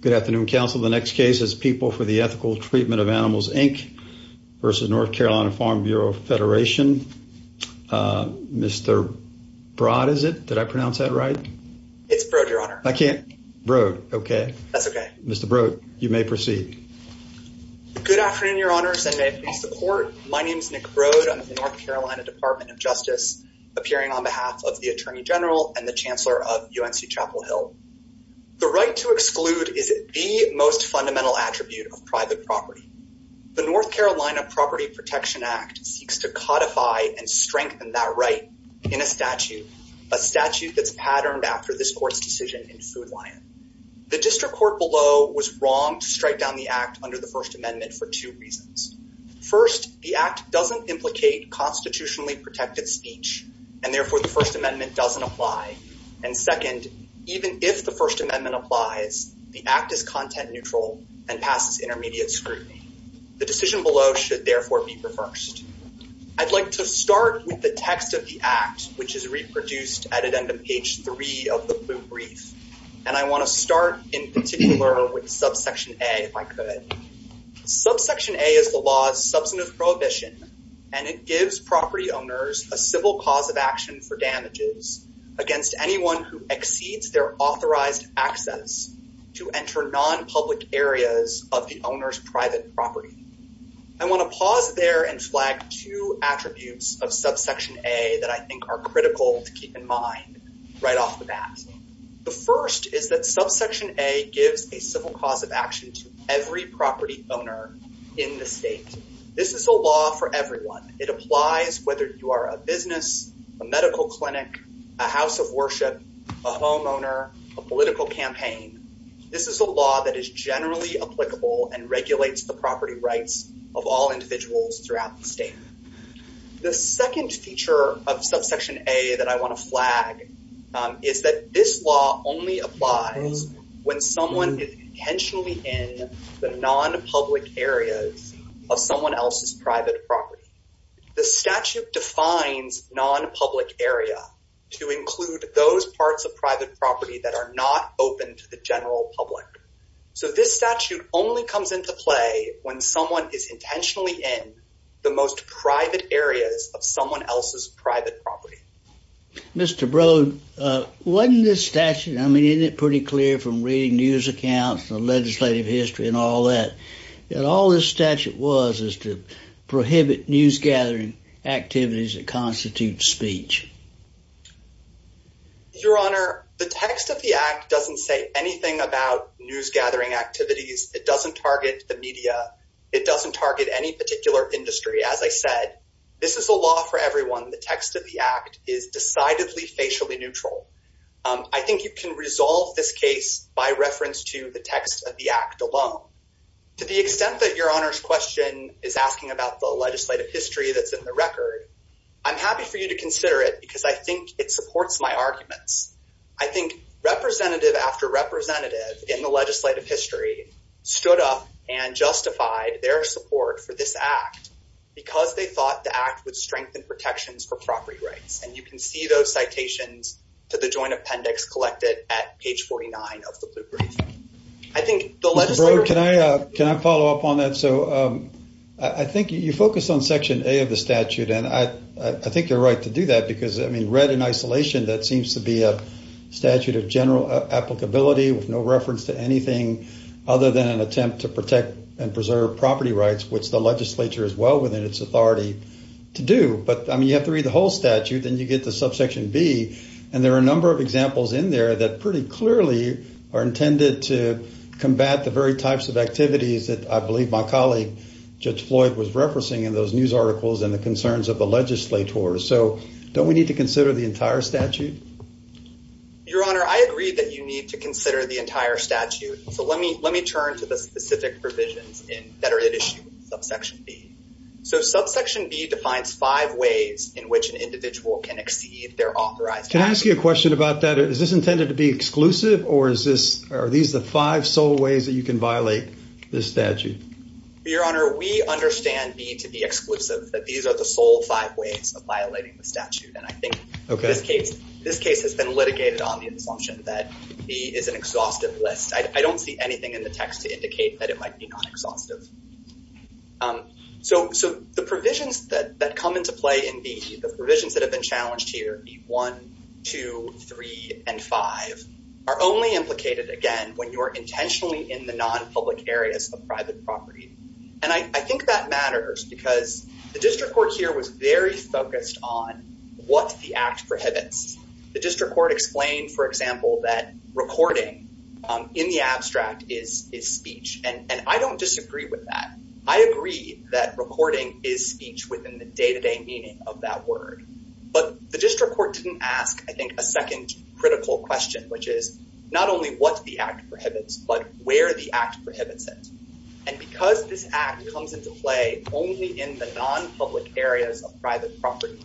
Good afternoon, counsel. The next case is People for the Ethical Treatment of Animals, Inc. v. North Carolina Farm Bureau Federation. Mr. Broad, is it? Did I pronounce that right? It's Broad, your honor. I can't? Broad, okay. That's okay. Mr. Broad, you may proceed. Good afternoon, your honors, and may it please the court. My name is Nick Broad. I'm with the North Carolina Department of Justice, appearing on behalf of the Attorney General and the Chancellor of UNC Chapel Hill. The right to exclude is the most fundamental attribute of private property. The North Carolina Property Protection Act seeks to codify and strengthen that right in a statute, a statute that's patterned after this court's decision in Food Lion. The district court below was wrong to strike down the act under the First Amendment for two reasons. First, the act doesn't implicate unconstitutionally protected speech, and therefore the First Amendment doesn't apply. And second, even if the First Amendment applies, the act is content-neutral and passes intermediate scrutiny. The decision below should therefore be reversed. I'd like to start with the text of the act, which is reproduced at the end of page three of the blue brief, and I want to start in particular with subsection A, if I could. Subsection A is the law's substantive prohibition, and it gives property owners a civil cause of action for damages against anyone who exceeds their authorized access to enter non-public areas of the owner's private property. I want to pause there and flag two attributes of subsection A that I think are critical to keep in mind right off the bat. The first is that subsection A gives a civil cause of action to every property owner in the state. This is a law for everyone. It applies whether you are a business, a medical clinic, a house of worship, a homeowner, a political campaign. This is a law that is generally applicable and regulates the property rights of all individuals throughout the state. The second feature of subsection A that I want to flag is that this law only applies when someone is intentionally in the non-public areas of someone else's private property. The statute defines non-public area to include those parts of private property that are not open to the general public. So this statute only comes into play when someone is intentionally in the most private areas of someone else's private property. Mr. Broad, wasn't this statute, I mean, isn't it pretty clear from reading news accounts and the legislative history and all that, that all this statute was is to prohibit news gathering activities that constitute speech? Your Honor, the text of the Act doesn't say anything about news gathering activities. It doesn't target the media. It doesn't target any particular industry. As I said, this is a law for everyone. The text of the Act is decidedly facially neutral. I think you can resolve this case by reference to the text of the Act alone. To the extent that Your Honor's question is asking about the legislative history that's in the record, I'm happy for you to consider it because I think it supports my arguments. I think representative after representative in the legislative history stood up and justified their support for this Act because they thought the Act would strengthen protections for property rights. And you can see those citations to the joint appendix collected at page 49 of the Blue Brief. I think the legislature... Mr. Broad, can I follow up on that? So I think you focused on section A of the statute and I think you're right to do that because, I mean, read in isolation, that seems to be a statute of general applicability with no reference to anything other than an attempt to protect and preserve property rights, which the legislature is well within its authority to do. But, I mean, you have to read the whole statute, then you get to subsection B, and there are a number of examples in there that pretty clearly are intended to combat the very types of activities that I believe my colleague Judge Floyd was referencing in those news articles and the concerns of the legislators. So don't we need to consider the entire statute? Your Honor, I agree that you need to consider the entire statute. So let me turn to the specific provisions that are at issue with subsection B. So subsection B defines five ways in which an individual can exceed their authorized... Can I ask you a question about that? Is this intended to be exclusive or is this... are these the five sole ways that you can violate this statute? Your Honor, we understand B to be exclusive, that these are the sole five ways of violating the statute. And I think in this case, this case has been litigated on the assumption that B is an exhaustive list. I don't see anything in the text to indicate that it might be non-exhaustive. So the provisions that come into play in B, the provisions that have been challenged here, B1, B2, B3, and B5, are only implicated, again, when you're intentionally in the non-public areas of private property. And I think that matters because the district court here was very focused on what the act prohibits. The district court explained, for example, that recording in the abstract is speech. And I don't disagree with that. I agree that recording is speech within the day-to-day meaning of that word. But the district court didn't ask, I think, a second critical question, which is not only what the act prohibits, but where the act prohibits it. And because this act comes into play only in the non-public areas of private property,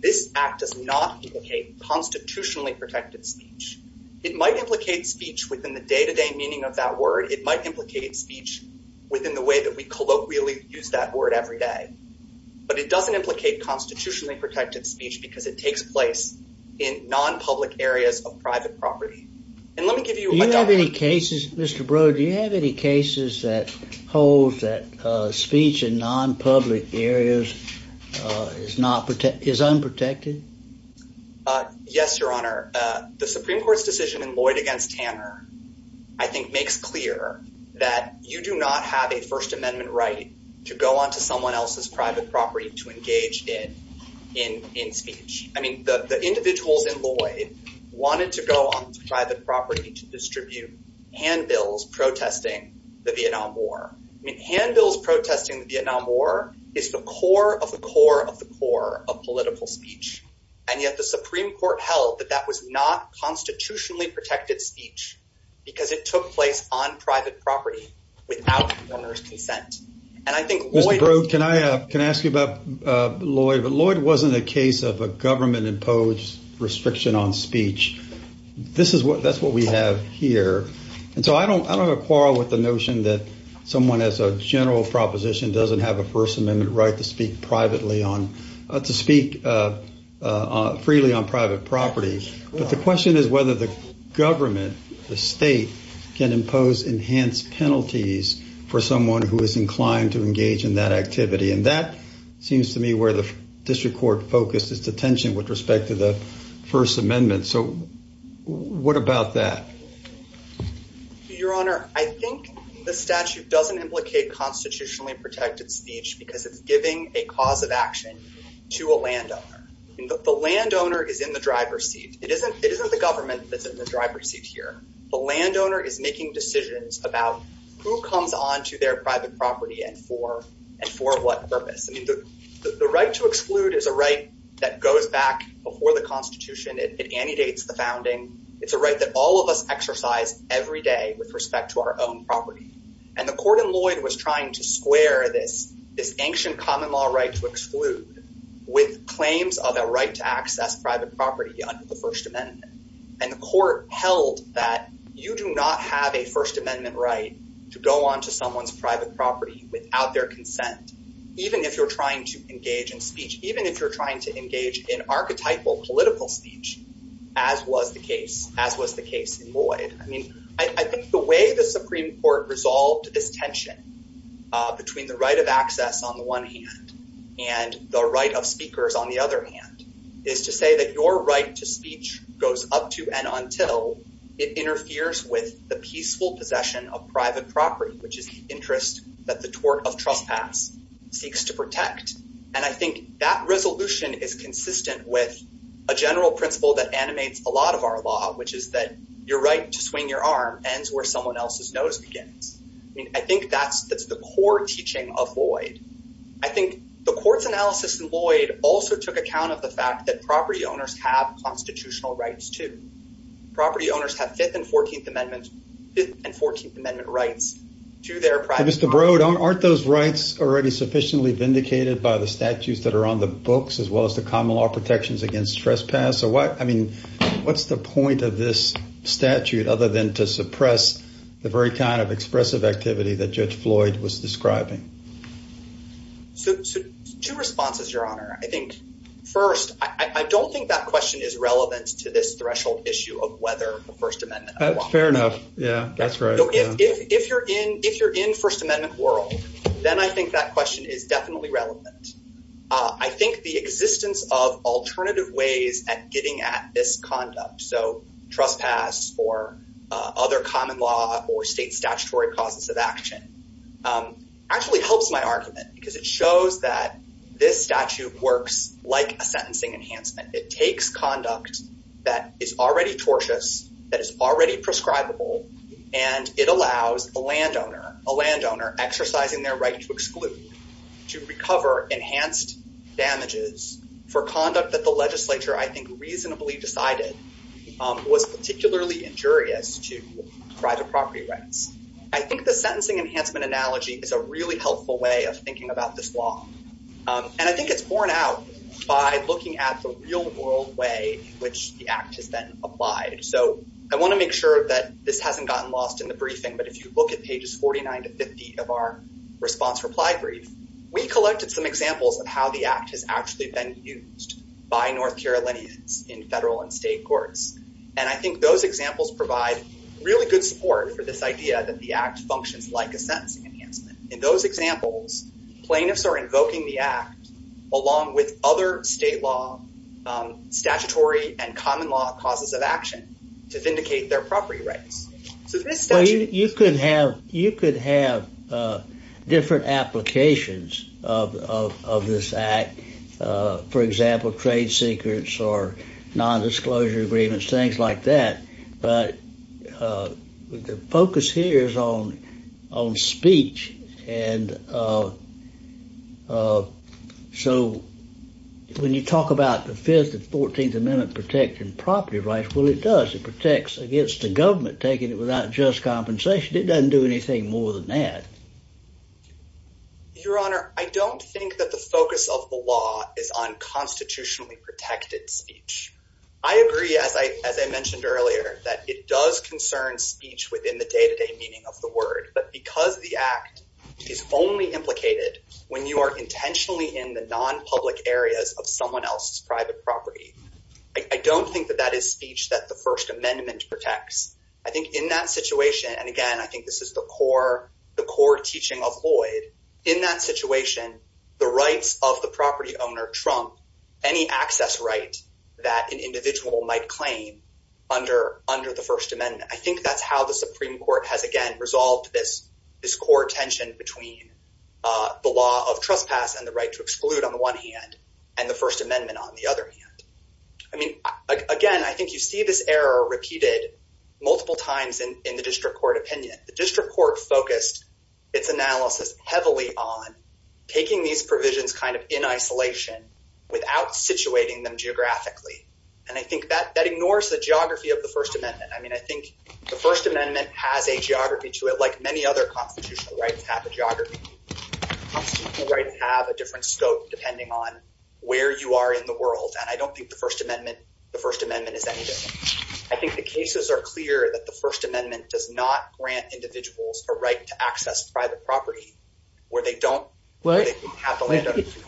this act does not implicate constitutionally protected speech. It might implicate speech within the day-to-day meaning of that word. It might implicate speech within the way that we colloquially use that word every day. But it doesn't implicate constitutionally protected speech because it takes place in non-public areas of private property. And let me give you- Do you have any cases, Mr. Broad, do you have any cases that hold that speech in non-public areas is unprotected? Yes, Your Honor. The Supreme Court's decision in Lloyd v. Tanner, I think, makes clear that you do not have a First Amendment right to go onto someone else's private property to engage in speech. I mean, the individuals in Lloyd wanted to go onto private property to distribute handbills protesting the Vietnam War. I mean, handbills protesting the Vietnam War is the core of the core of the core of political speech. And yet the Supreme Court held that that was not constitutionally protected speech because it took place on private property without the owner's consent. And I think- Mr. Broad, can I ask you about Lloyd? But Lloyd wasn't a case of a government imposed restriction on speech. That's what we have here. And so I don't, I don't have a quarrel with the notion that someone has a general proposition doesn't have a First Amendment right to speak privately on, to speak freely on private property. But the question is whether the government, the state, can impose enhanced penalties for someone who is inclined to engage in that activity. And that seems to me where the District Court focused its attention with respect to the First Amendment. So what about that? Your Honor, I think the statute doesn't implicate constitutionally protected speech because it's giving a cause of action to a landowner. The landowner is in the driver's seat. It isn't the government that's in the driver's seat here. The landowner is making decisions about who comes on to their private property and for, and for what purpose. I mean, the right to exclude is a right that goes back before the Constitution. It antedates the founding. It's a right that all of us exercise every day with respect to our own property. And the court in Lloyd was trying to square this, this ancient common law right to exclude with claims of a right to access private property under the First Amendment. And the court held that you do not have a First Amendment right to go on to someone's private property without their consent, even if you're trying to engage in speech, even if you're trying to engage in archetypal political speech, as was the case, as was the case in Lloyd. I mean, I think the way the Supreme Court resolved this tension between the right of access on the one hand and the right of speakers on the other hand is to say that your right to speech goes up to and until it interferes with the peaceful possession of private property, which is the interest that the tort of trespass seeks to protect. And I think that resolution is consistent with a general principle that animates a lot of our law, which is that your right to swing your arm ends where someone else's nose begins. I mean, I think that's the core teaching of Lloyd. I think the court's analysis in Lloyd also took account of the fact that property owners have constitutional rights, too. Property owners have Fifth and Fourteenth Amendment rights to their private property. Aren't those rights already sufficiently vindicated by the statutes that are on the books as well as the common law protections against trespass? So what I mean, what's the point of this statute other than to suppress the very kind of expressive activity that Judge Floyd was describing? So two responses, Your Honor. I think first, I don't think that question is relevant to this threshold issue of whether the First Amendment. Fair enough. Yeah, that's right. If you're in First Amendment world, then I think that question is definitely relevant. I think the existence of alternative ways at getting at this conduct, so trespass or other common law or state statutory causes of action actually helps my argument because it shows that this statute works like a sentencing enhancement. It takes conduct that is already tortious, that is already prescribable, and it allows a landowner, a landowner exercising their right to exclude, to recover enhanced damages for conduct that the legislature, I think, reasonably decided was particularly injurious to private property rights. I think the sentencing enhancement analogy is a really helpful way of thinking about this law. And I think it's borne out by looking at the real world way in which the Act has been applied. So I want to make sure that this hasn't gotten lost in the briefing, but if you look at pages 49 to 50 of our response reply brief, we collected some examples of how the Act has actually been used by North Carolinians in federal and state courts. And I think those examples provide really good support for this idea that the Act functions like a sentencing enhancement. In those examples, plaintiffs are invoking the Act along with other state law, statutory, and common law causes of action to vindicate their property rights. So this statute... Well, you could have, you could have different applications of this Act. For example, trade secrets or non-disclosure agreements, things like that. But the focus here is on speech and so when you talk about the Fifth and Fourteenth Amendment protecting property rights, well, it does. It protects against the government taking it without just compensation. It doesn't do anything more than that. Your Honor, I don't think that the focus of the law is on constitutionally protected speech. I agree, as I mentioned earlier, that it does concern speech within the day-to-day meaning of the word, but because the Act is only implicated when you are intentionally in the non-public areas of someone else's private property, I don't think that that is speech that the First Amendment protects. I think in that situation, and again, I think this is the core teaching of Lloyd, in that situation, the rights of the property owner trump any access right that an individual might claim under the First Amendment. I think that's how the Supreme Court has again resolved this core tension between the law of trespass and the right to exclude on the one hand and the First Amendment on the other hand. I mean, again, I think you see this error repeated multiple times in the district court opinion. The district court focused its analysis heavily on taking these provisions kind of in isolation without situating them geographically, and I think that that ignores the geography of the First Amendment. I mean, I think the First Amendment has a geography to it like many other constitutional rights have a geography. Constitutional rights have a different scope depending on where you are in the world, and I don't think the First Amendment is anything. I think the cases are clear that the First Amendment does not grant individuals a right to access private property where they don't have the land ownership.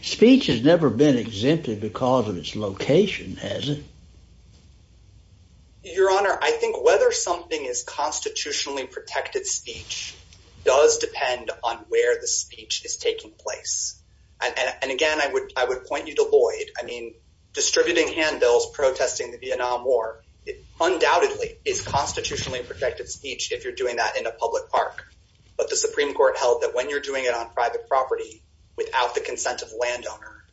Speech has never been exempted because of its location, has it? Your Honor, I think whether something is constitutionally protected speech does depend on where the speech is taking place. And again, I would point you to Lloyd. I mean, distributing handbills, protesting the Vietnam War, undoubtedly is constitutionally protected speech if you're doing that in a public park. But the Supreme Court held that when you're doing it on private property without the consent of a landowner,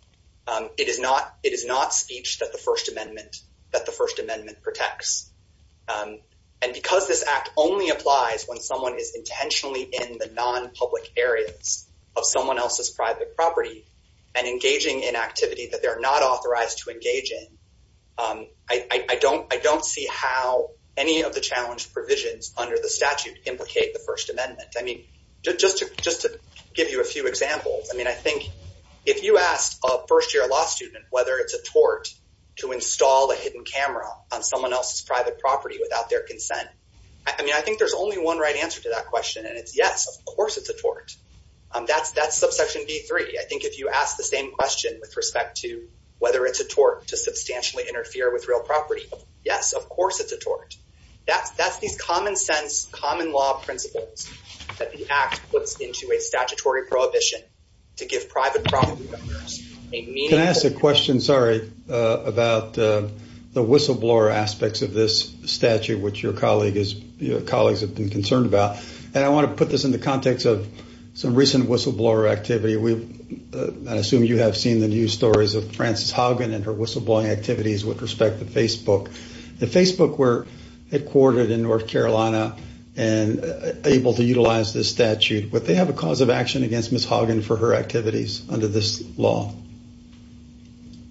it is not speech that the First Amendment protects. And because this act only applies when someone is intentionally in the non-public areas of someone else's private property and engaging in activity that they're not authorized to engage in, I don't see how any of the challenge provisions under the statute implicate the First Amendment. I mean, just to give you a few examples, I mean, I think if you asked a first-year law student whether it's a tort to install a hidden camera on someone else's private property without their consent, I mean, I think there's only one right answer to that question, and it's yes, of course it's a tort. That's subsection B-3. I think if you ask the same question with respect to whether it's a tort to share with real property, yes, of course it's a tort. That's these common-sense, common law principles that the act puts into a statutory prohibition to give private property owners a meaningful- Can I ask a question, sorry, about the whistleblower aspects of this statute, which your colleagues have been concerned about? And I want to put this in the context of some recent whistleblower activity. I assume you have seen the news stories of Frances Haugen and her whistleblowing activities with respect to Facebook. If Facebook were headquartered in North Carolina and able to utilize this statute, would they have a cause of action against Ms. Haugen for her activities under this law?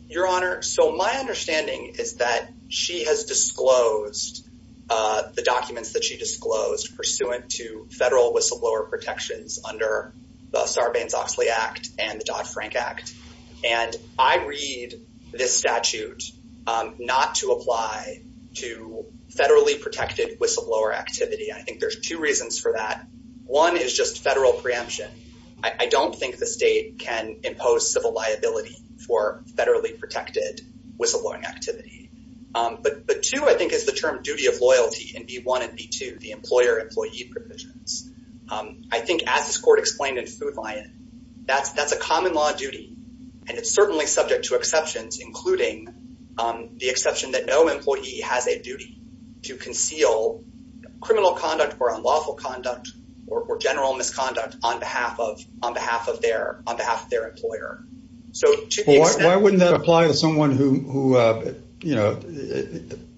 Your Honor, so my understanding is that she has disclosed the documents that she disclosed pursuant to federal whistleblower protections under the Sarbanes-Oxley Act and the Dodd-Frank Act. And I read this statute not to apply to federally protected whistleblower activity. I think there's two reasons for that. One is just federal preemption. I don't think the state can impose civil liability for federally protected whistleblowing activity. But two, I think, is the term duty of loyalty in B-1 and B-2, the employer-employee provisions. I think as this Court explained in Food Lion, that's a common law duty and it's certainly subject to exceptions, including the exception that no employee has a duty to conceal criminal conduct or unlawful conduct or general misconduct on behalf of their employer. Why wouldn't that apply to someone who you know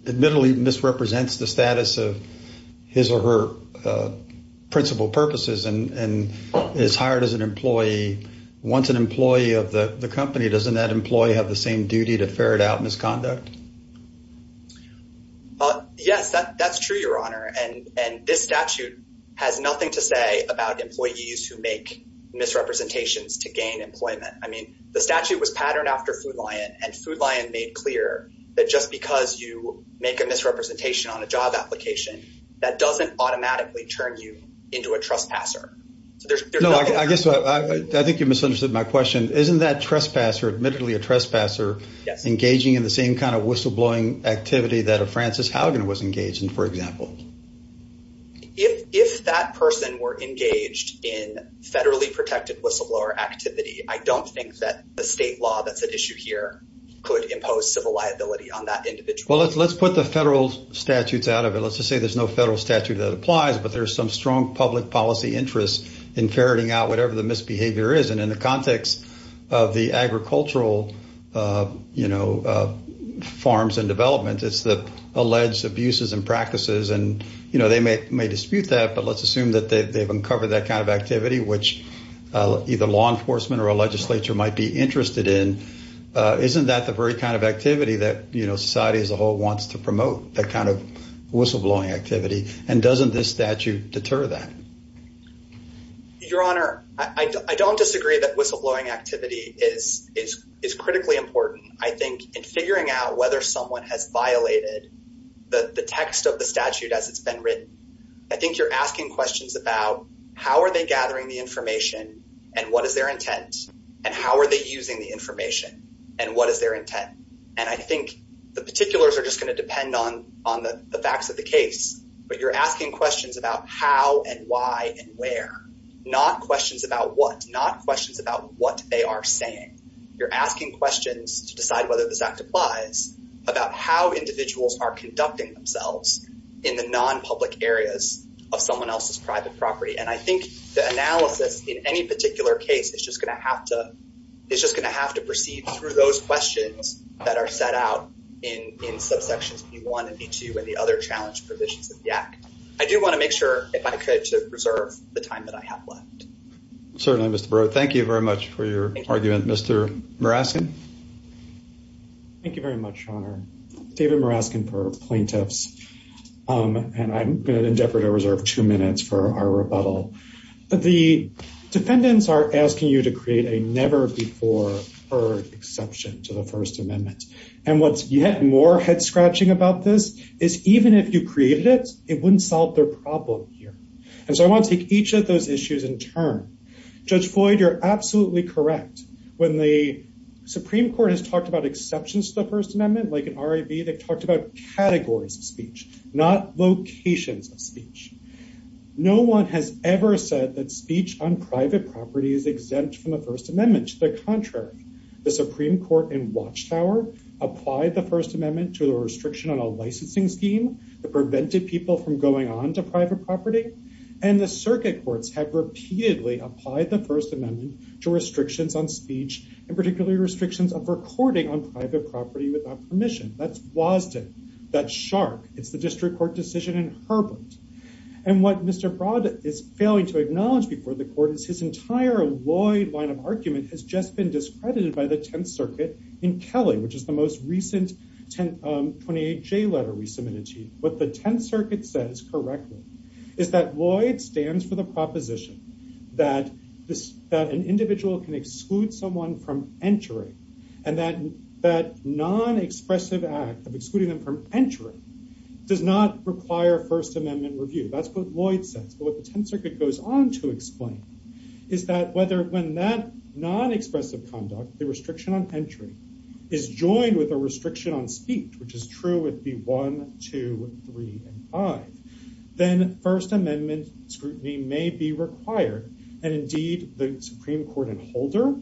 admittedly misrepresents the status of his or her principal purposes and is hired as an employee? Once an employee of the company, doesn't that employee have the same duty to ferret out misconduct? Yes, that's true, Your Honor. And this statute has nothing to say about employees who make misrepresentations to gain employment. I mean, the statute was patterned after Food Lion and Food Lion made clear that just because you make a misrepresentation on a job application, that doesn't automatically turn you into a trespasser. No, I guess I think you misunderstood my question. Isn't that trespasser admittedly a trespasser engaging in the same kind of whistleblowing activity that a Francis Haugen was engaged in, for example? If that person were engaged in federally protected whistleblower activity, I don't think that the state law that's at issue here could impose civil liability on that individual. Well, let's put the federal statutes out of it. Let's just say there's no federal statute that applies, but there's some strong public policy interest in ferreting out whatever the misbehavior is. And in the context of the agricultural farms and development, it's the alleged abuses and practices. And they may dispute that, but let's assume that they've uncovered that kind of activity, which either law enforcement or a legislature might be interested in. Isn't that the very kind of activity that society as a whole wants to promote, that kind of whistleblowing activity? And doesn't this statute deter that? Your Honor, I don't disagree that whistleblowing activity is critically important. I think in figuring out whether someone has violated the text of the statute as it's been written, I think you're asking questions about how are they gathering the information and what is their intent? And how are they using the information and what is their intent? And I think the particulars are just going to depend on the facts of the case, but you're asking questions about how and why and where, not questions about what, not questions about what they are saying. You're asking questions to decide whether this act applies about how individuals are conducting themselves in the non-public areas of someone else's private property. And I think the analysis in any particular case is just going to have to proceed through those questions that are set out in subsections B-1 and B-2 and the other challenge provisions of the act. I do want to make sure, if I could, to preserve the time that I have left. Certainly, Mr. Barreau. Thank you very much for your argument, Mr. Maraskin. Thank you very much, Your Honor. David Maraskin for plaintiffs. And I'm going to endeavor to reserve two minutes for our rebuttal. The defendants are asking you to create a never before heard exception to the First Amendment. And what's yet more head-scratching about this is even if you created it, it wouldn't solve their problem here. And so I want to take each of those issues in turn. Judge Floyd, you're absolutely correct. When the Supreme Court has talked about exceptions to the First Amendment, like in RIV, they've talked about categories of speech, not locations of speech. No one has ever said that speech on private property is exempt from the First Amendment. To the contrary, the Supreme Court in Watchtower applied the First Amendment to the restriction on a licensing scheme that prevented people from going on to private property. And the circuit courts have repeatedly applied the First Amendment to restrictions on speech, in particular restrictions of recording on private property without permission. That's WASDN. That's SHARC. It's the district court decision in Herbert. And what Mr. Broad is failing to acknowledge before the court is his entire Lloyd line of argument has just been discredited by the Tenth Circuit in Kelly, which is the most recent 28J letter we submitted to you. What the Tenth Circuit says correctly is that Lloyd stands for the proposition that an individual can exclude someone from entering and that that non-expressive act of excluding them from entering does not require First Amendment review. That's what Lloyd says. But what the Tenth Circuit goes on to explain is that whether when that non-expressive conduct, the restriction on entry, is joined with a restriction on speech, which is true with the 1, 2, 3, and 5, then First Amendment scrutiny may be required. And indeed the Supreme Court in Holder,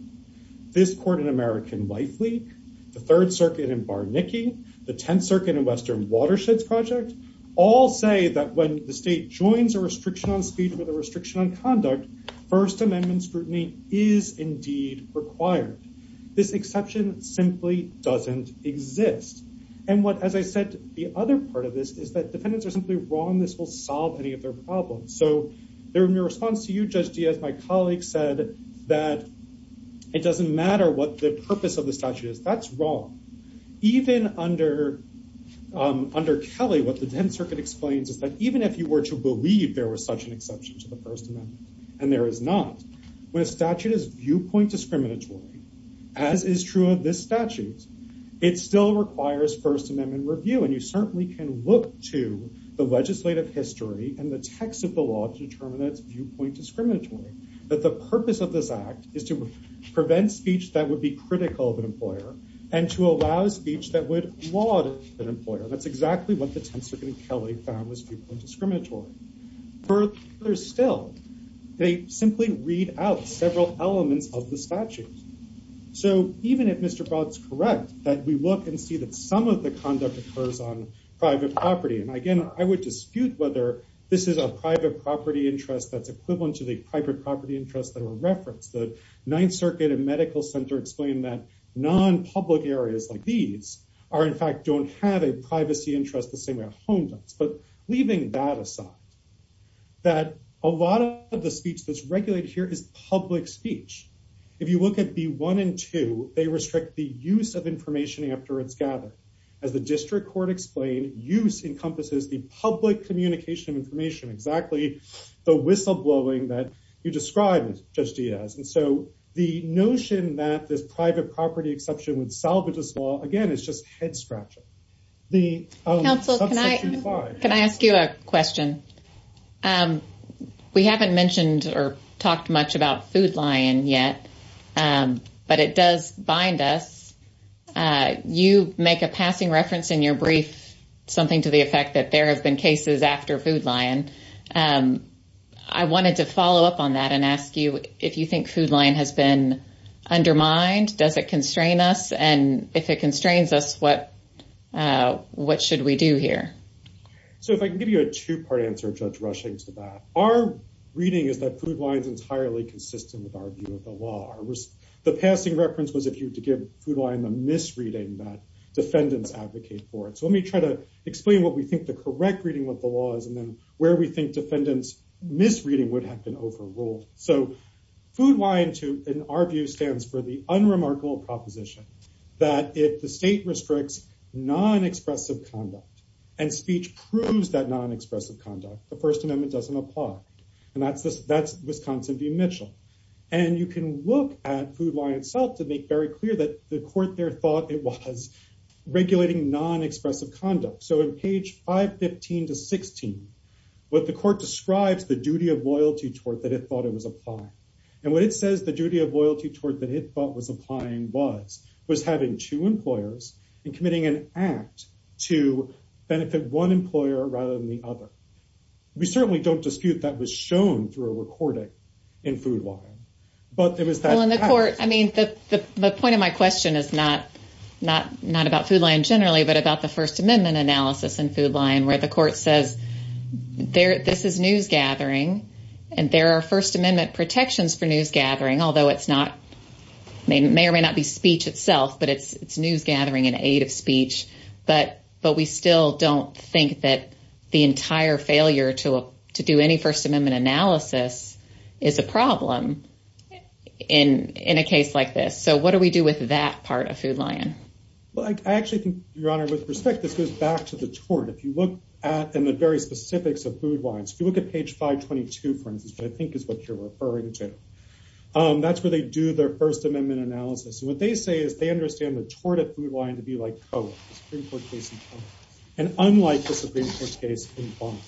this court in American Life League, the Third Circuit in Barnicki, the Tenth Circuit in Western Watersheds Project, all say that when the state joins a restriction on speech with a restriction on conduct, First Amendment scrutiny is indeed required. This exception simply doesn't exist. And what, as I said, the other part of this is that defendants are simply wrong. This will solve any of their problems. So in response to you, Judge Diaz, my colleague said that it doesn't matter what the purpose of the statute is. That's wrong. Even under Kelly, what the Tenth Circuit explains is that even if you were to believe there was such an exception to the First Amendment and there is not, when a statute is viewpoint discriminatory, as is true of this statute, it still requires First Amendment review. And you certainly can look to the legislative history and the text of the law to determine that it's viewpoint discriminatory. That the purpose of this act is to prevent speech that would be critical of an employer and to allow speech that would laud an employer. That's exactly what the Tenth Circuit in Kelly found was viewpoint discriminatory. Further still, they simply read out several elements of the statute. So even if Mr. Broad's correct that we look and see that some of the conduct occurs on private property, and again, I would dispute whether this is a private property interest that's equivalent to the private property interests that were referenced. The Ninth Circuit and Medical Center explain that non-public areas like these are in fact don't have a privacy interest the same way a home does. But leaving that aside, that a lot of the speech that's regulated here is public speech. If you look at B1 and 2, they restrict the use of information after it's gathered. As the district court explained, use encompasses the public communication of information. Exactly the whistle blowing that you described, Judge Diaz. And so the notion that this private property exception would salvage this law, again, is just head-scratching. Counsel, can I ask you a question? We haven't mentioned or talked much about Food Lion yet, but it does bind us. You make a passing reference in your brief, something to the effect that there have been cases after Food Lion. I wanted to follow up on that and ask you if you think Food Lion has been undermined? Does it constrain us? And if it constrains us, what should we do here? So if I can give you a two-part answer, Judge Rushing, to that. Our reading is that Food Lion is entirely consistent with our view of the law. The passing reference was if you were to give Food Lion the misreading that defendants advocate for it. So let me try to explain what we think the correct reading of the law is and then where we think defendants' misreading would have been overruled. So Food Lion, in our view, stands for the unremarkable proposition that if the state restricts non-expressive conduct and speech proves that non-expressive conduct, the First Amendment doesn't apply. And that's Wisconsin v. Mitchell. And you can look at Food Lion itself to make very clear that the court there thought it was regulating non-expressive conduct. So in page 515 to 16, what the court describes the duty of loyalty tort that it thought it was applying. And what it says the duty of loyalty tort that it thought was applying was, was having two employers and committing an act to benefit one employer rather than the other. We certainly don't dispute that was shown through a recording in Food Lion, but it was that- Well, in the court, I mean, the point of my question is not about Food Lion generally, but about the First Amendment analysis in Food Lion where the court says this is news gathering and there are First Amendment protections for news gathering, although it's not, it may or may not be speech itself, but it's news gathering in aid of speech. But we still don't think that the entire failure to do any First Amendment analysis is a problem in a case like this. So what do we do with that part of Food Lion? Well, I actually think, Your Honor, with respect, this goes back to the tort. If you look at the very specifics of Food Lion, if you look at page 522, for instance, which I think is what you're referring to, that's where they do their First Amendment analysis. What they say is they understand the tort at Food Lion to be like Cohen's Supreme Court case. And unlike the Supreme Court case in Bonn,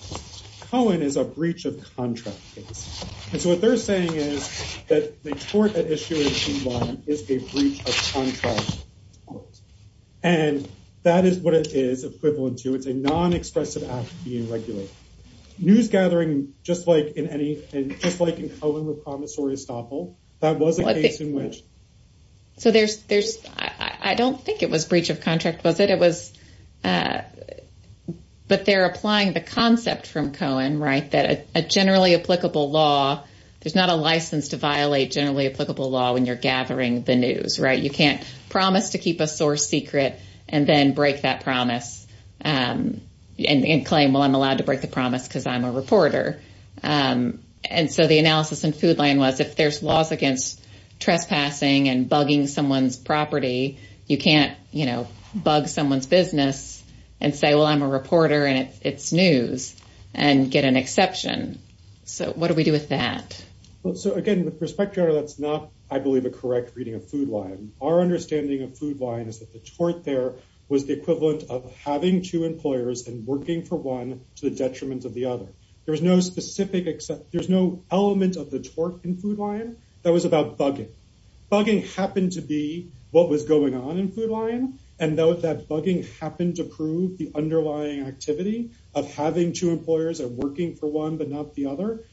Cohen is a breach of contract case. And so what they're saying is that the tort at issue in Food Lion is a breach of contract. And that is what it is equivalent to. It's a non-expressive act being regulated. News gathering, just like in Cohen with promissory estoppel, that was a case in which I don't think it was breach of contract, was it? But they're applying the concept from Cohen, right, that a generally applicable law, there's not a license to violate generally applicable law when you're gathering the news, right? You can't promise to keep a source secret and then break that promise and claim, well, I'm allowed to break the promise because I'm a reporter. And so the analysis in Food Lion was if there's laws against trespassing and bugging someone's property, you can't, you know, bug someone's business and say, well, I'm a reporter and it's news and get an exception. So what do we do with that? Well, so again, with respect to that's not, I believe, a correct reading of Food Lion. Our understanding of Food Lion is that the tort there was the equivalent of having two employers and working for one to the detriment of the other. There was no specific, there's no element of the tort in Food Lion that was about bugging. Bugging happened to be what was going on in Food Lion. And though that bugging happened to prove the underlying activity of having two employers and working for one, but not the other.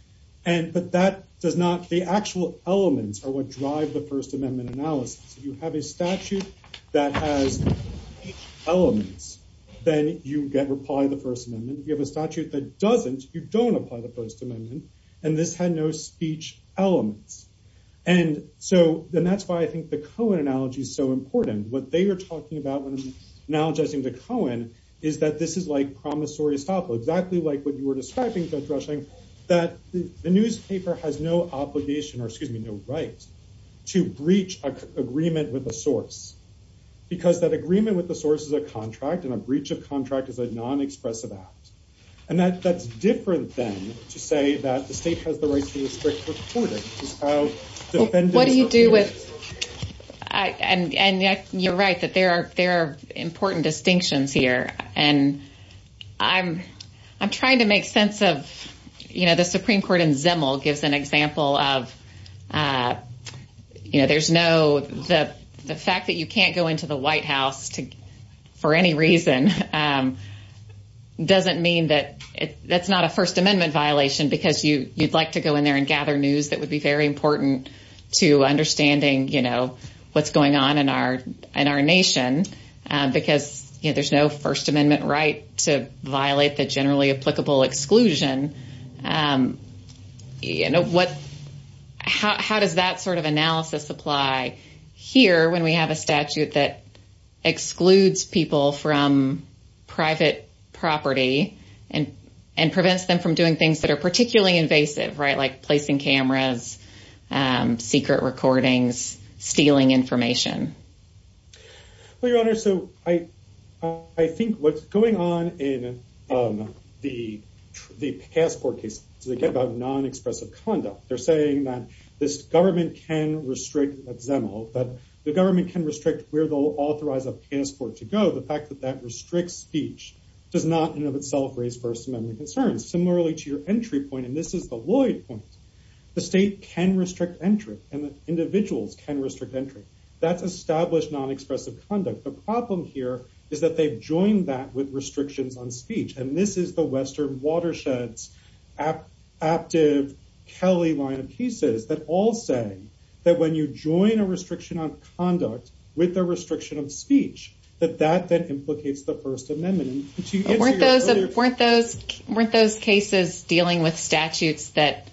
And but that does not, the actual elements are what drive the First Amendment analysis. If you have a statute that has elements, then you get reply the First Amendment. If you have a statute that doesn't, you don't apply the First Amendment and this had no speech elements. And so then that's why I think the Cohen analogy is so important. What they were talking about when analogizing to Cohen is that this is like promissory estoppel, exactly like what you were describing, Judge Rushing, that the newspaper has no obligation or excuse me, no right to breach an agreement with a source. Because that agreement with the source is a contract and a breach of contract is a non-expressive act. And that that's different than to say that the state has the right to restrict reporting. What do you do with I and and you're right that there are there are important distinctions here and I'm I'm trying to make sense of you know, the Supreme Court in Zimmel gives an example of uh you know, there's no the the fact that you can't go into the White House to for any reason, um doesn't mean that that's not a First Amendment violation because you you'd like to go in there and gather news that would be very important to understanding, you know, what's going on in our in our nation um, because you know, there's no First Amendment right to violate the generally applicable exclusion um you know what how how does that sort of analysis apply here when we have a statute that excludes people from Private property and and prevents them from doing things that are particularly invasive right like placing cameras um secret recordings stealing information Well, your honor so I I think what's going on in um the The passport case so they get about non-expressive conduct They're saying that this government can restrict at Zimmel that the government can restrict where they'll authorize a passport to go The fact that that restricts speech does not in of itself raise First Amendment concerns similarly to your entry point And this is the Lloyd point The state can restrict entry and the individuals can restrict entry that's established non-expressive conduct The problem here is that they've joined that with restrictions on speech and this is the western watersheds Aptive Kelly line of pieces that all say That when you join a restriction on conduct with a restriction of speech that that then implicates the first amendment Weren't those weren't those cases dealing with statutes that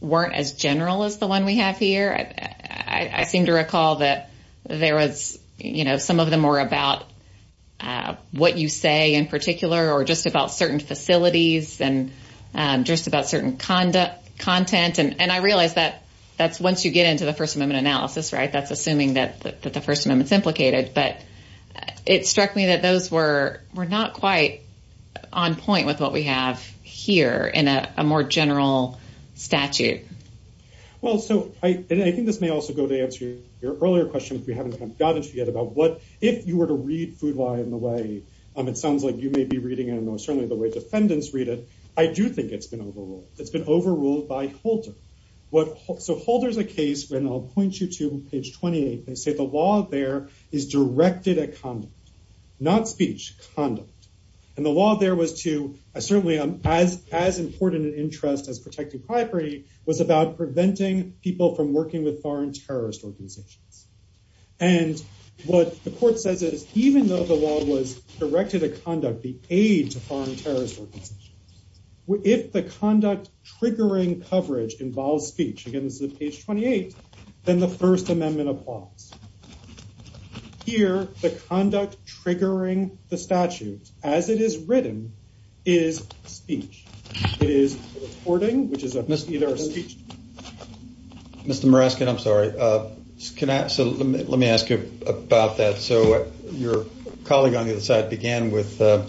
Weren't as general as the one we have here. I I seem to recall that There was you know, some of them were about uh what you say in particular or just about certain facilities and Um just about certain conduct content and and I realized that that's once you get into the first amendment analysis, right? that's assuming that that the first amendment's implicated, but It struck me that those were were not quite On point with what we have here in a more general statute well, so I and I think this may also go to answer your earlier question if we haven't kind of gotten to get about what If you were to read food lie in the way Um, it sounds like you may be reading it. I know certainly the way defendants read it. I do think it's been overruled It's been overruled by holter What so holder's a case when i'll point you to page 28. They say the law there is directed at conduct not speech conduct and the law there was to Certainly as as important an interest as protecting property was about preventing people from working with foreign terrorist organizations And what the court says is even though the law was directed to conduct the aid to foreign terrorist organizations If the conduct triggering coverage involves speech again, this is page 28 Then the first amendment applies Here the conduct triggering the statute as it is written is speech It is reporting which is either speech Or speech Mr. Morescott, i'm sorry, uh, can I so let me ask you about that? So your colleague on the other side began with The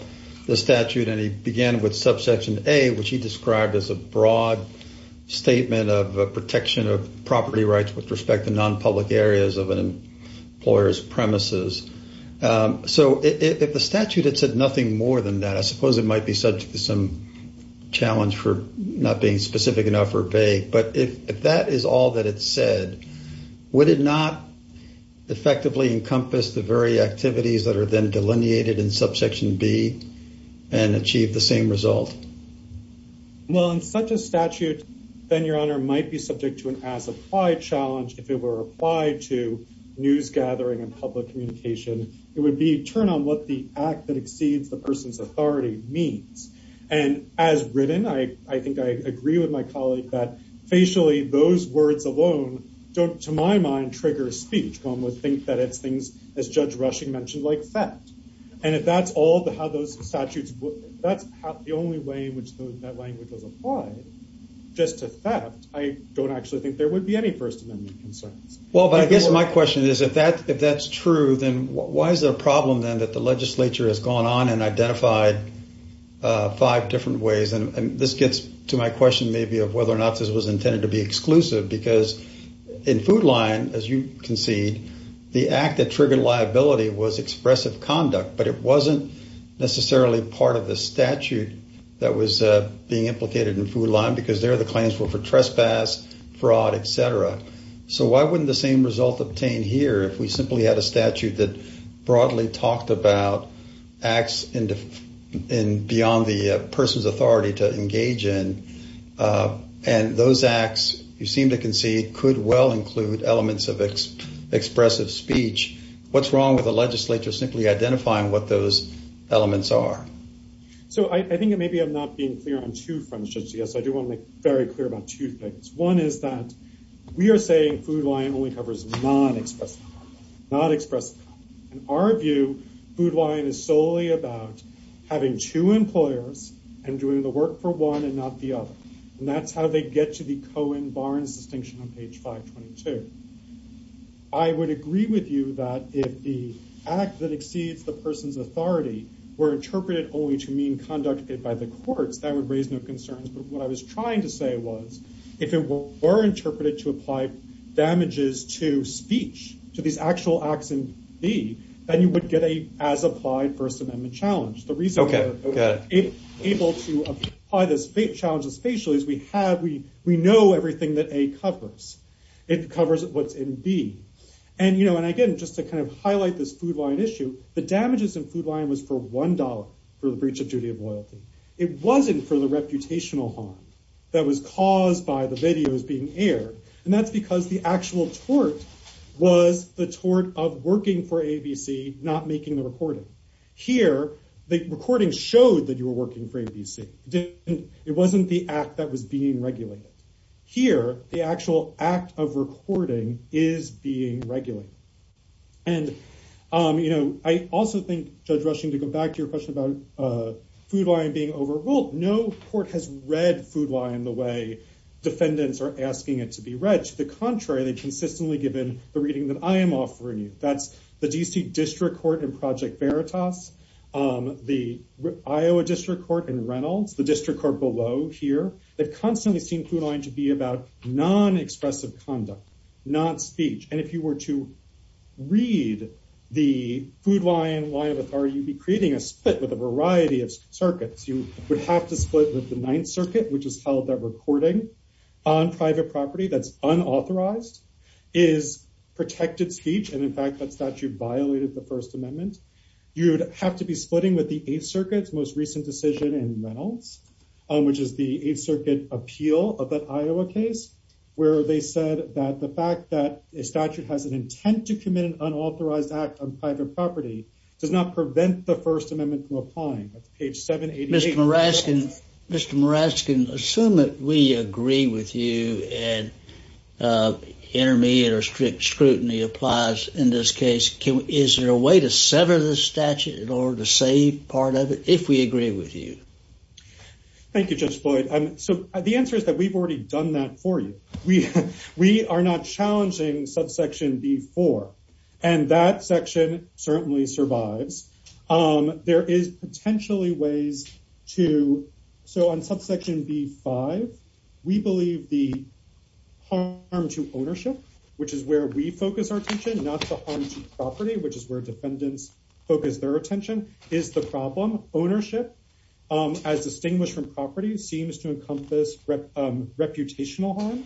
statute and he began with subsection a which he described as a broad statement of protection of property rights with respect to non-public areas of an employer's premises So if the statute had said nothing more than that, I suppose it might be subject to some Challenge for not being specific enough or vague, but if that is all that it said Would it not? Effectively encompass the very activities that are then delineated in subsection b And achieve the same result Well in such a statute Then your honor might be subject to an as applied challenge if it were applied to News gathering and public communication It would be turn on what the act that exceeds the person's authority means And as written I I think I agree with my colleague that facially those words alone Don't to my mind trigger speech one would think that it's things as judge rushing mentioned like theft And if that's all the how those statutes that's the only way in which that language was applied Just to theft. I don't actually think there would be any first amendment concerns Well, but I guess my question is if that if that's true then why is there a problem then that the legislature has gone on and identified uh five different ways and this gets to my question maybe of whether or not this was intended to be exclusive because In food line as you concede the act that triggered liability was expressive conduct, but it wasn't Necessarily part of the statute that was uh being implicated in food line because there the claims were for trespass Fraud, etc. So why wouldn't the same result obtained here if we simply had a statute that broadly talked about acts in beyond the person's authority to engage in Uh, and those acts you seem to concede could well include elements of Expressive speech what's wrong with the legislature simply identifying what those elements are So I think maybe i'm not being clear on two fronts judge Yes, I do want to make very clear about two things. One is that We are saying food line only covers non-expressive non-expressive in our view food line is solely about Having two employers and doing the work for one and not the other and that's how they get to the cohen barnes distinction on page 522 Were interpreted only to mean conducted by the courts that would raise no concerns But what I was trying to say was if it were interpreted to apply Damages to speech to these actual acts in b then you would get a as applied first amendment challenge the reason okay Able to apply this big challenge especially as we have we we know everything that a covers It covers what's in b And you know and again just to kind of highlight this food line issue The damages in food line was for one dollar for the breach of duty of loyalty It wasn't for the reputational harm that was caused by the videos being aired and that's because the actual tort Was the tort of working for abc not making the recording here The recording showed that you were working for abc It wasn't the act that was being regulated Here the actual act of recording is being regulated and um, you know, I also think judge rushing to go back to your question about uh Food line being overruled. No court has read food line the way Defendants are asking it to be read to the contrary. They consistently given the reading that I am offering you That's the dc district court and project veritas um the Iowa district court and reynolds the district court below here. They've constantly seen food line to be about non-expressive conduct not speech and if you were to read The food line line of authority you'd be creating a split with a variety of circuits You would have to split with the ninth circuit, which is held that recording on private property that's unauthorized Is protected speech and in fact that statute violated the first amendment You would have to be splitting with the eighth circuit's most recent decision in reynolds Which is the eighth circuit appeal of that iowa case Where they said that the fact that a statute has an intent to commit an unauthorized act on private property Does not prevent the first amendment from applying that's page 788. Mr. Maraskan Mr. Maraskan assume that we agree with you and Intermediate or strict scrutiny applies in this case Is there a way to sever the statute in order to save part of it if we agree with you? Thank you. Judge floyd. Um, so the answer is that we've already done that for you. We We are not challenging subsection b4 And that section certainly survives um, there is potentially ways to so on subsection b5 we believe the Harm to ownership, which is where we focus our attention not to harm to property Which is where defendants focus their attention is the problem ownership Um as distinguished from property seems to encompass Reputational harm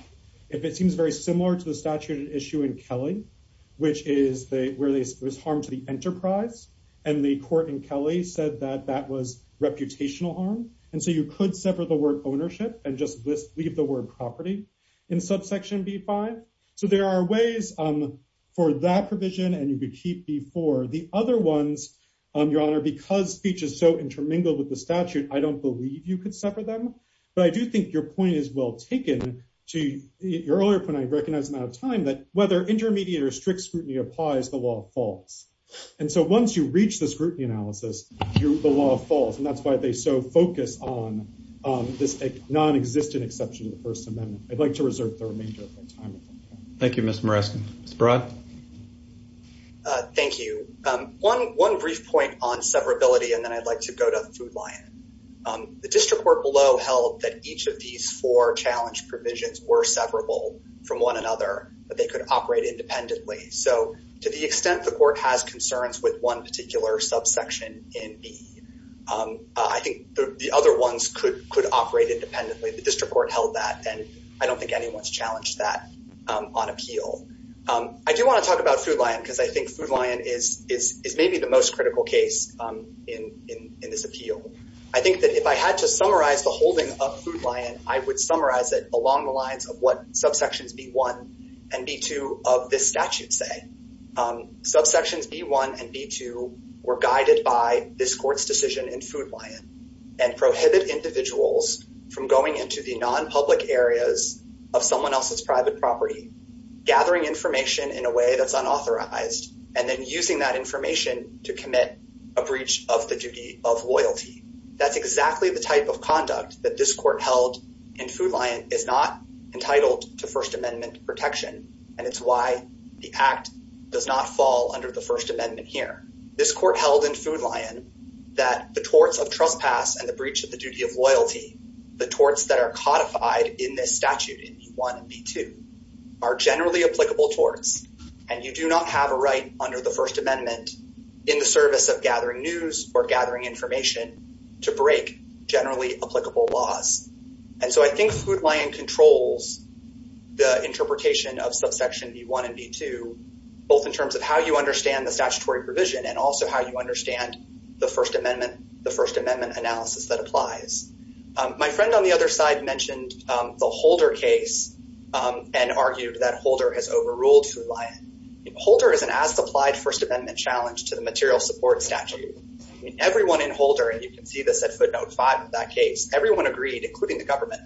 if it seems very similar to the statute at issue in kelly Which is the where there's harm to the enterprise and the court in kelly said that that was reputational harm And so you could sever the word ownership and just leave the word property in subsection b5 so there are ways For that provision and you could keep before the other ones Um, your honor because speech is so intermingled with the statute. I don't believe you could sever them But I do think your point is well taken To your earlier point. I recognize i'm out of time that whether intermediate or strict scrutiny applies the law falls And so once you reach the scrutiny analysis, you're the law falls and that's why they so focus on Um this non-existent exception to the first amendment. I'd like to reserve the remainder of my time Thank you. Mr. Moresco. Mr. Broad Uh, thank you, um one one brief point on severability and then i'd like to go to food lion Um, the district court below held that each of these four challenge provisions were severable from one another But they could operate independently. So to the extent the court has concerns with one particular subsection in b Um, I think the the other ones could could operate independently the district court held that and I don't think anyone's challenged that on appeal Um, I do want to talk about food lion because I think food lion is is is maybe the most critical case Um in in in this appeal I think that if I had to summarize the holding of food lion, I would summarize it along the lines of what subsections b1 And b2 of this statute say Um subsections b1 and b2 were guided by this court's decision in food lion And prohibit individuals from going into the non-public areas of someone else's private property Gathering information in a way that's unauthorized and then using that information to commit a breach of the duty of loyalty That's exactly the type of conduct that this court held in food lion is not entitled to first amendment protection And it's why the act does not fall under the first amendment here this court held in food lion That the torts of trespass and the breach of the duty of loyalty the torts that are codified in this statute in b1 and b2 Are generally applicable torts and you do not have a right under the first amendment In the service of gathering news or gathering information to break generally applicable laws And so I think food lion controls the interpretation of subsection b1 and b2 Both in terms of how you understand the statutory provision and also how you understand the first amendment the first amendment analysis that applies My friend on the other side mentioned the holder case And argued that holder has overruled food lion Holder is an as-applied first amendment challenge to the material support statute I mean everyone in holder and you can see this at footnote five in that case everyone agreed including the government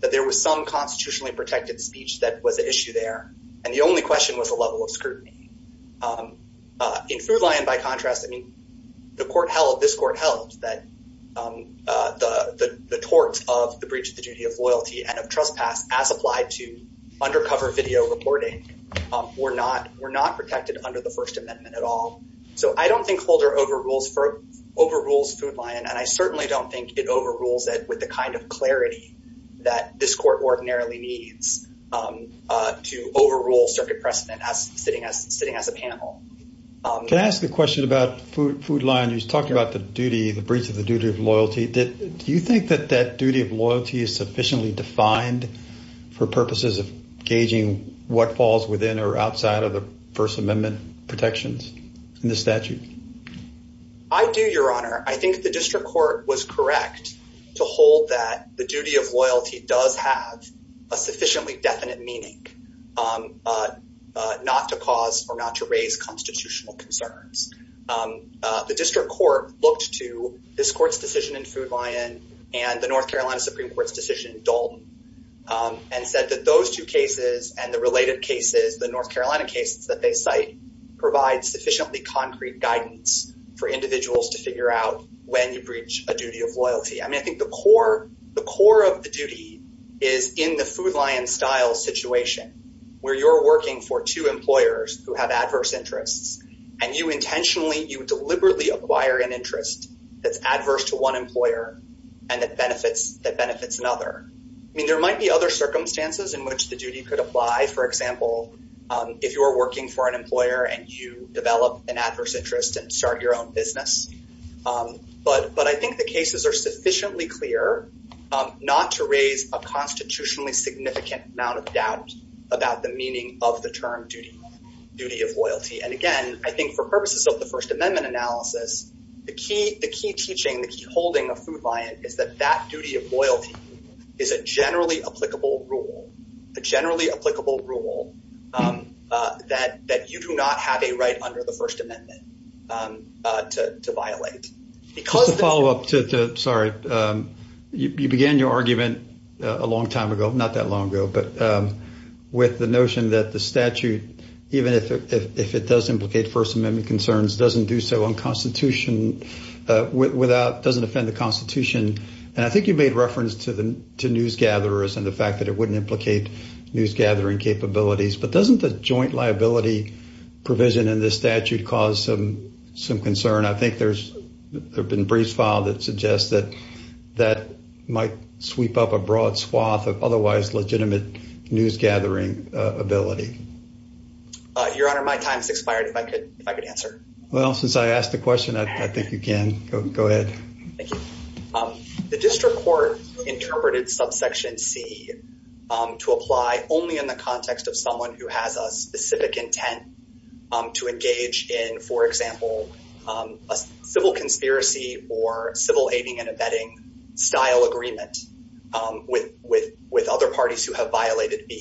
That there was some constitutionally protected speech that was an issue there. And the only question was a level of scrutiny In food lion by contrast, I mean the court held this court held that The the torts of the breach of the duty of loyalty and of trespass as applied to undercover video reporting Were not were not protected under the first amendment at all So I don't think holder overrules for overrules food lion and I certainly don't think it overrules it with the kind of clarity That this court ordinarily needs To overrule circuit precedent as sitting as sitting as a panel Can I ask a question about food food lion who's talking about the duty the breach of the duty of loyalty Do you think that that duty of loyalty is sufficiently defined? For purposes of gauging what falls within or outside of the first amendment protections in the statute I do your honor. I think the district court was correct to hold that the duty of loyalty does have a sufficiently definite meaning Um Not to cause or not to raise constitutional concerns The district court looked to this court's decision in food lion and the north carolina supreme court's decision in dole And said that those two cases and the related cases the north carolina cases that they cite provide sufficiently concrete guidance For individuals to figure out when you breach a duty of loyalty I mean, I think the core the core of the duty is in the food lion style situation Where you're working for two employers who have adverse interests and you intentionally you deliberately acquire an interest That's adverse to one employer And that benefits that benefits another I mean there might be other circumstances in which the duty could apply for example Um, if you're working for an employer and you develop an adverse interest and start your own business Um, but but I think the cases are sufficiently clear Um not to raise a constitutionally significant amount of doubt about the meaning of the term duty Duty of loyalty and again, I think for purposes of the first amendment analysis The key the key teaching the key holding of food lion is that that duty of loyalty Is a generally applicable rule a generally applicable rule um That that you do not have a right under the first amendment um to to violate because the follow-up to the sorry, um you began your argument a long time ago, not that long ago, but um With the notion that the statute even if if it does implicate first amendment concerns doesn't do so on constitution Uh without doesn't offend the constitution And I think you made reference to the to newsgatherers and the fact that it wouldn't implicate news gathering capabilities, but doesn't the joint liability? provision in this statute cause some some concern I think there's there've been briefs filed that suggest that That might sweep up a broad swath of otherwise legitimate news gathering ability Uh, your honor my time's expired if I could if I could answer well since I asked the question, I think you can go ahead Thank you um, the district court interpreted subsection c Um to apply only in the context of someone who has a specific intent um to engage in for example Um a civil conspiracy or civil aiding and abetting style agreement um with with with other parties who have violated b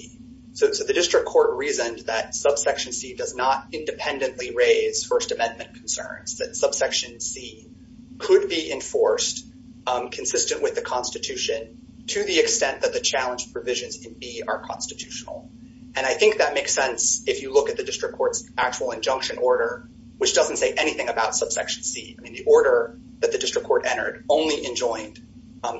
So the district court reasoned that subsection c does not independently raise first amendment concerns that subsection c could be enforced consistent with the constitution To the extent that the challenge provisions in b are constitutional And I think that makes sense if you look at the district court's actual injunction order Which doesn't say anything about subsection c. I mean the order that the district court entered only enjoined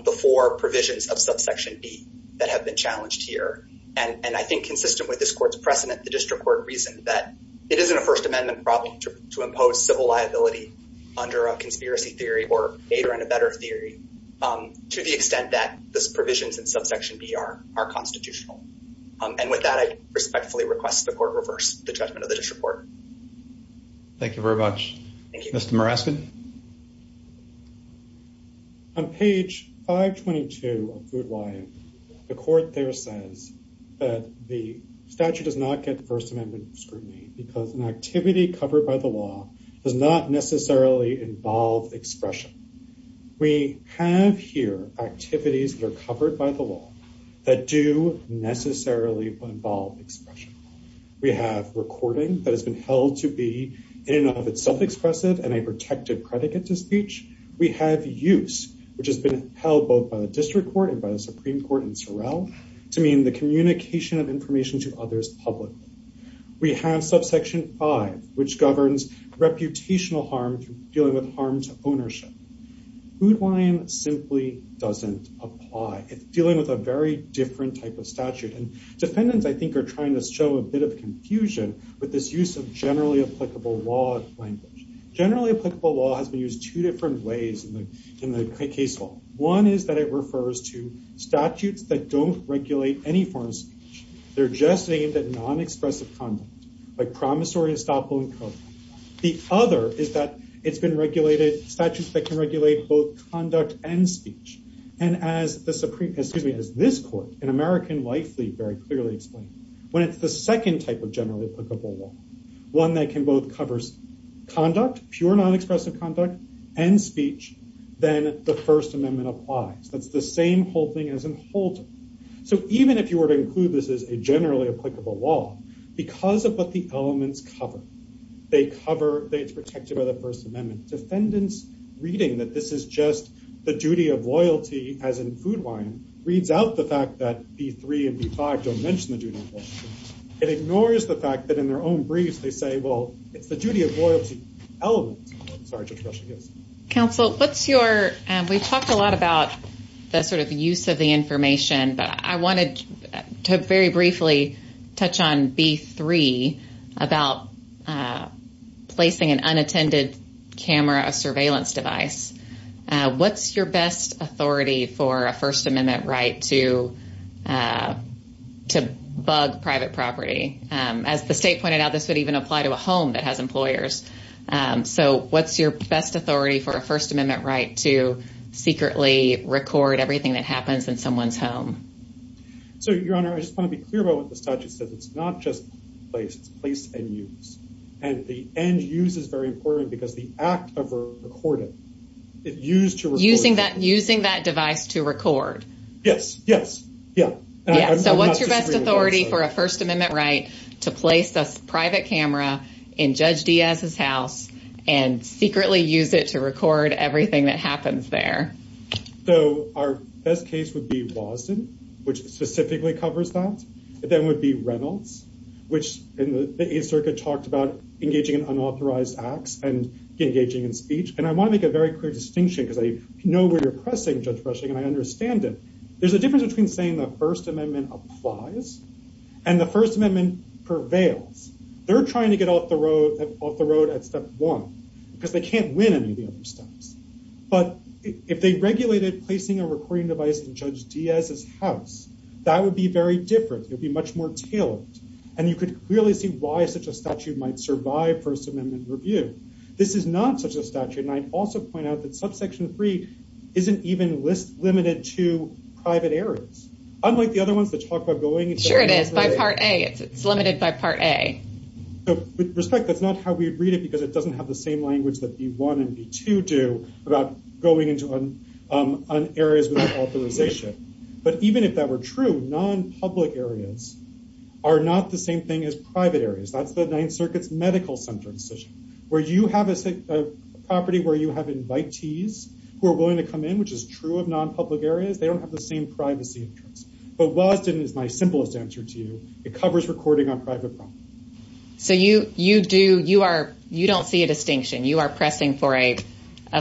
the four provisions of subsection b that have been challenged here and and I think consistent with this court's precedent the district court reasoned that It isn't a first amendment problem to impose civil liability Under a conspiracy theory or aid or in a better theory Um to the extent that this provisions in subsection b are are constitutional Um, and with that I respectfully request the court reverse the judgment of the district court Thank you very much. Thank you. Mr. Morasky On page 522 of good life the court there says That the statute does not get the first amendment scrutiny because an activity covered by the law does not necessarily involve expression We have here activities that are covered by the law that do necessarily involve expression We have recording that has been held to be In and of itself expressive and a protected predicate to speech We have use which has been held both by the district court and by the supreme court in sorrel To mean the communication of information to others publicly We have subsection 5 which governs reputational harm through dealing with harm to ownership Food wine simply doesn't apply. It's dealing with a very different type of statute and defendants I think are trying to show a bit of confusion with this use of generally applicable law language Generally applicable law has been used two different ways in the in the case law. One is that it refers to Statutes that don't regulate any form of speech. They're just aimed at non-expressive content like promissory estoppel and code The other is that it's been regulated statutes that can regulate both conduct and speech And as the supreme excuse me as this court in american lifely very clearly explained When it's the second type of generally applicable law one that can both covers conduct pure non-expressive conduct and speech Then the first amendment applies. That's the same whole thing as in holder So even if you were to include this as a generally applicable law because of what the elements cover They cover that it's protected by the first amendment defendants Reading that this is just the duty of loyalty as in food wine reads out the fact that b3 and b5 don't mention the duty It ignores the fact that in their own briefs. They say well, it's the duty of loyalty element. I'm, sorry Counsel, what's your and we've talked a lot about The sort of use of the information, but I wanted to very briefly touch on b3 About uh, placing an unattended camera a surveillance device What's your best authority for a first amendment right to? To bug private property, um as the state pointed out this would even apply to a home that has employers so what's your best authority for a first amendment right to Secretly record everything that happens in someone's home So your honor I just want to be clear about what the statute says it's not just Placed it's place and use and the end use is very important because the act of recording It used to using that using that device to record. Yes. Yes. Yeah So what's your best authority for a first amendment right to place a private camera in judge? Diaz's house? And secretly use it to record everything that happens there So our best case would be waston which specifically covers that but then would be reynolds Which in the a circuit talked about engaging in unauthorized acts and engaging in speech And I want to make a very clear distinction because I know where you're pressing judge brushing and I understand it There's a difference between saying the first amendment applies And the first amendment prevails They're trying to get off the road off the road at step one because they can't win any of the other steps But if they regulated placing a recording device in judge Diaz's house, that would be very different It'd be much more tailored and you could clearly see why such a statute might survive first amendment review This is not such a statute and I also point out that subsection three Isn't even list limited to private areas unlike the other ones that talk about going. Sure. It is by part a it's limited by part a So with respect that's not how we read it because it doesn't have the same language that b1 and b2 do about going into um on areas without authorization, but even if that were true non-public areas Are not the same thing as private areas. That's the ninth circuit's medical center decision where you have a Property where you have invitees who are willing to come in which is true of non-public areas They don't have the same privacy interests, but waston is my simplest answer to you. It covers recording on private property so you you do you are you don't see a distinction you are pressing for a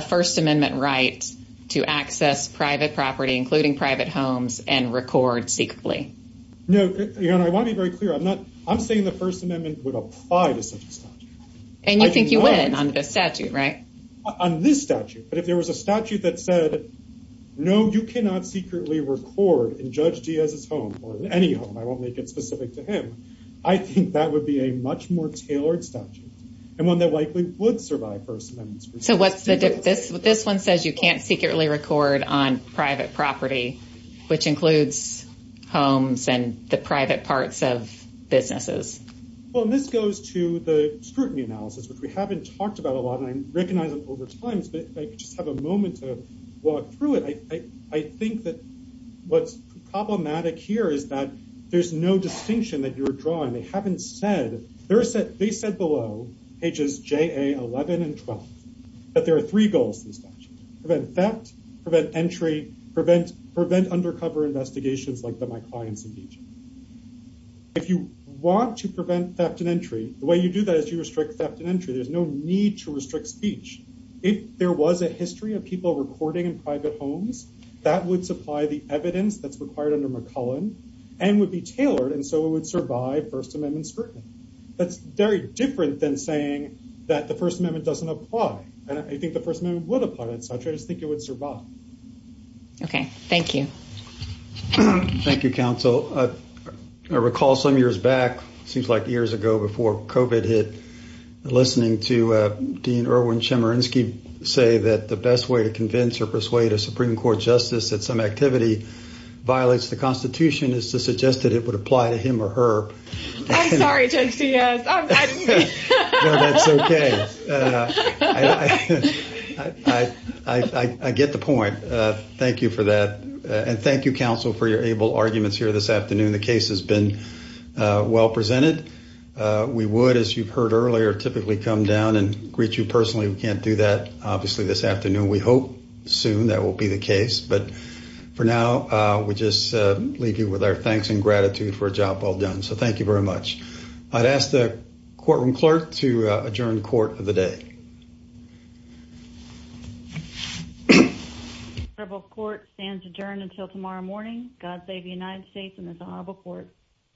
First amendment right to access private property, including private homes and record secretly No, you know, I want to be very clear. I'm not I'm saying the first amendment would apply to such a statute And you think you win on this statute right on this statute, but if there was a statute that said No, you cannot secretly record in judge Diaz's home or any home. I won't make it specific to him I think that would be a much more tailored statute and one that likely would survive first amendments So what's the difference with this one says you can't secretly record on private property, which includes homes and the private parts of businesses Well, this goes to the scrutiny analysis, which we haven't talked about a lot and I recognize them over times But I just have a moment to walk through it. I I think that What's problematic here is that there's no distinction that you're drawing. They haven't said there's that they said below pages j a 11 and 12 But there are three goals to the statute prevent theft prevent entry prevent prevent undercover investigations like that. My clients in deejay If you want to prevent theft and entry the way you do that is you restrict theft and entry There's no need to restrict speech if there was a history of people recording in private homes That would supply the evidence that's required under mccullen and would be tailored and so it would survive first amendment scrutiny That's very different than saying that the first amendment doesn't apply I think the first amendment would apply it. So I just think it would survive Okay. Thank you Thank you council I recall some years back seems like years ago before covet hit Listening to uh, dean erwin chemerinsky say that the best way to convince or persuade a supreme court justice that some activity Violates the constitution is to suggest that it would apply to him or her I'm, sorry judge. Yes No, that's okay I I I get the point. Uh, thank you for that And thank you council for your able arguments here this afternoon. The case has been Uh well presented Uh, we would as you've heard earlier typically come down and greet you personally. We can't do that. Obviously this afternoon we hope soon that will be the case, but For now, uh, we just uh leave you with our thanks and gratitude for a job well done. So, thank you very much I'd ask the courtroom clerk to adjourn court of the day Thank you Honorable court stands adjourned until tomorrow morning. God save the united states and the honorable court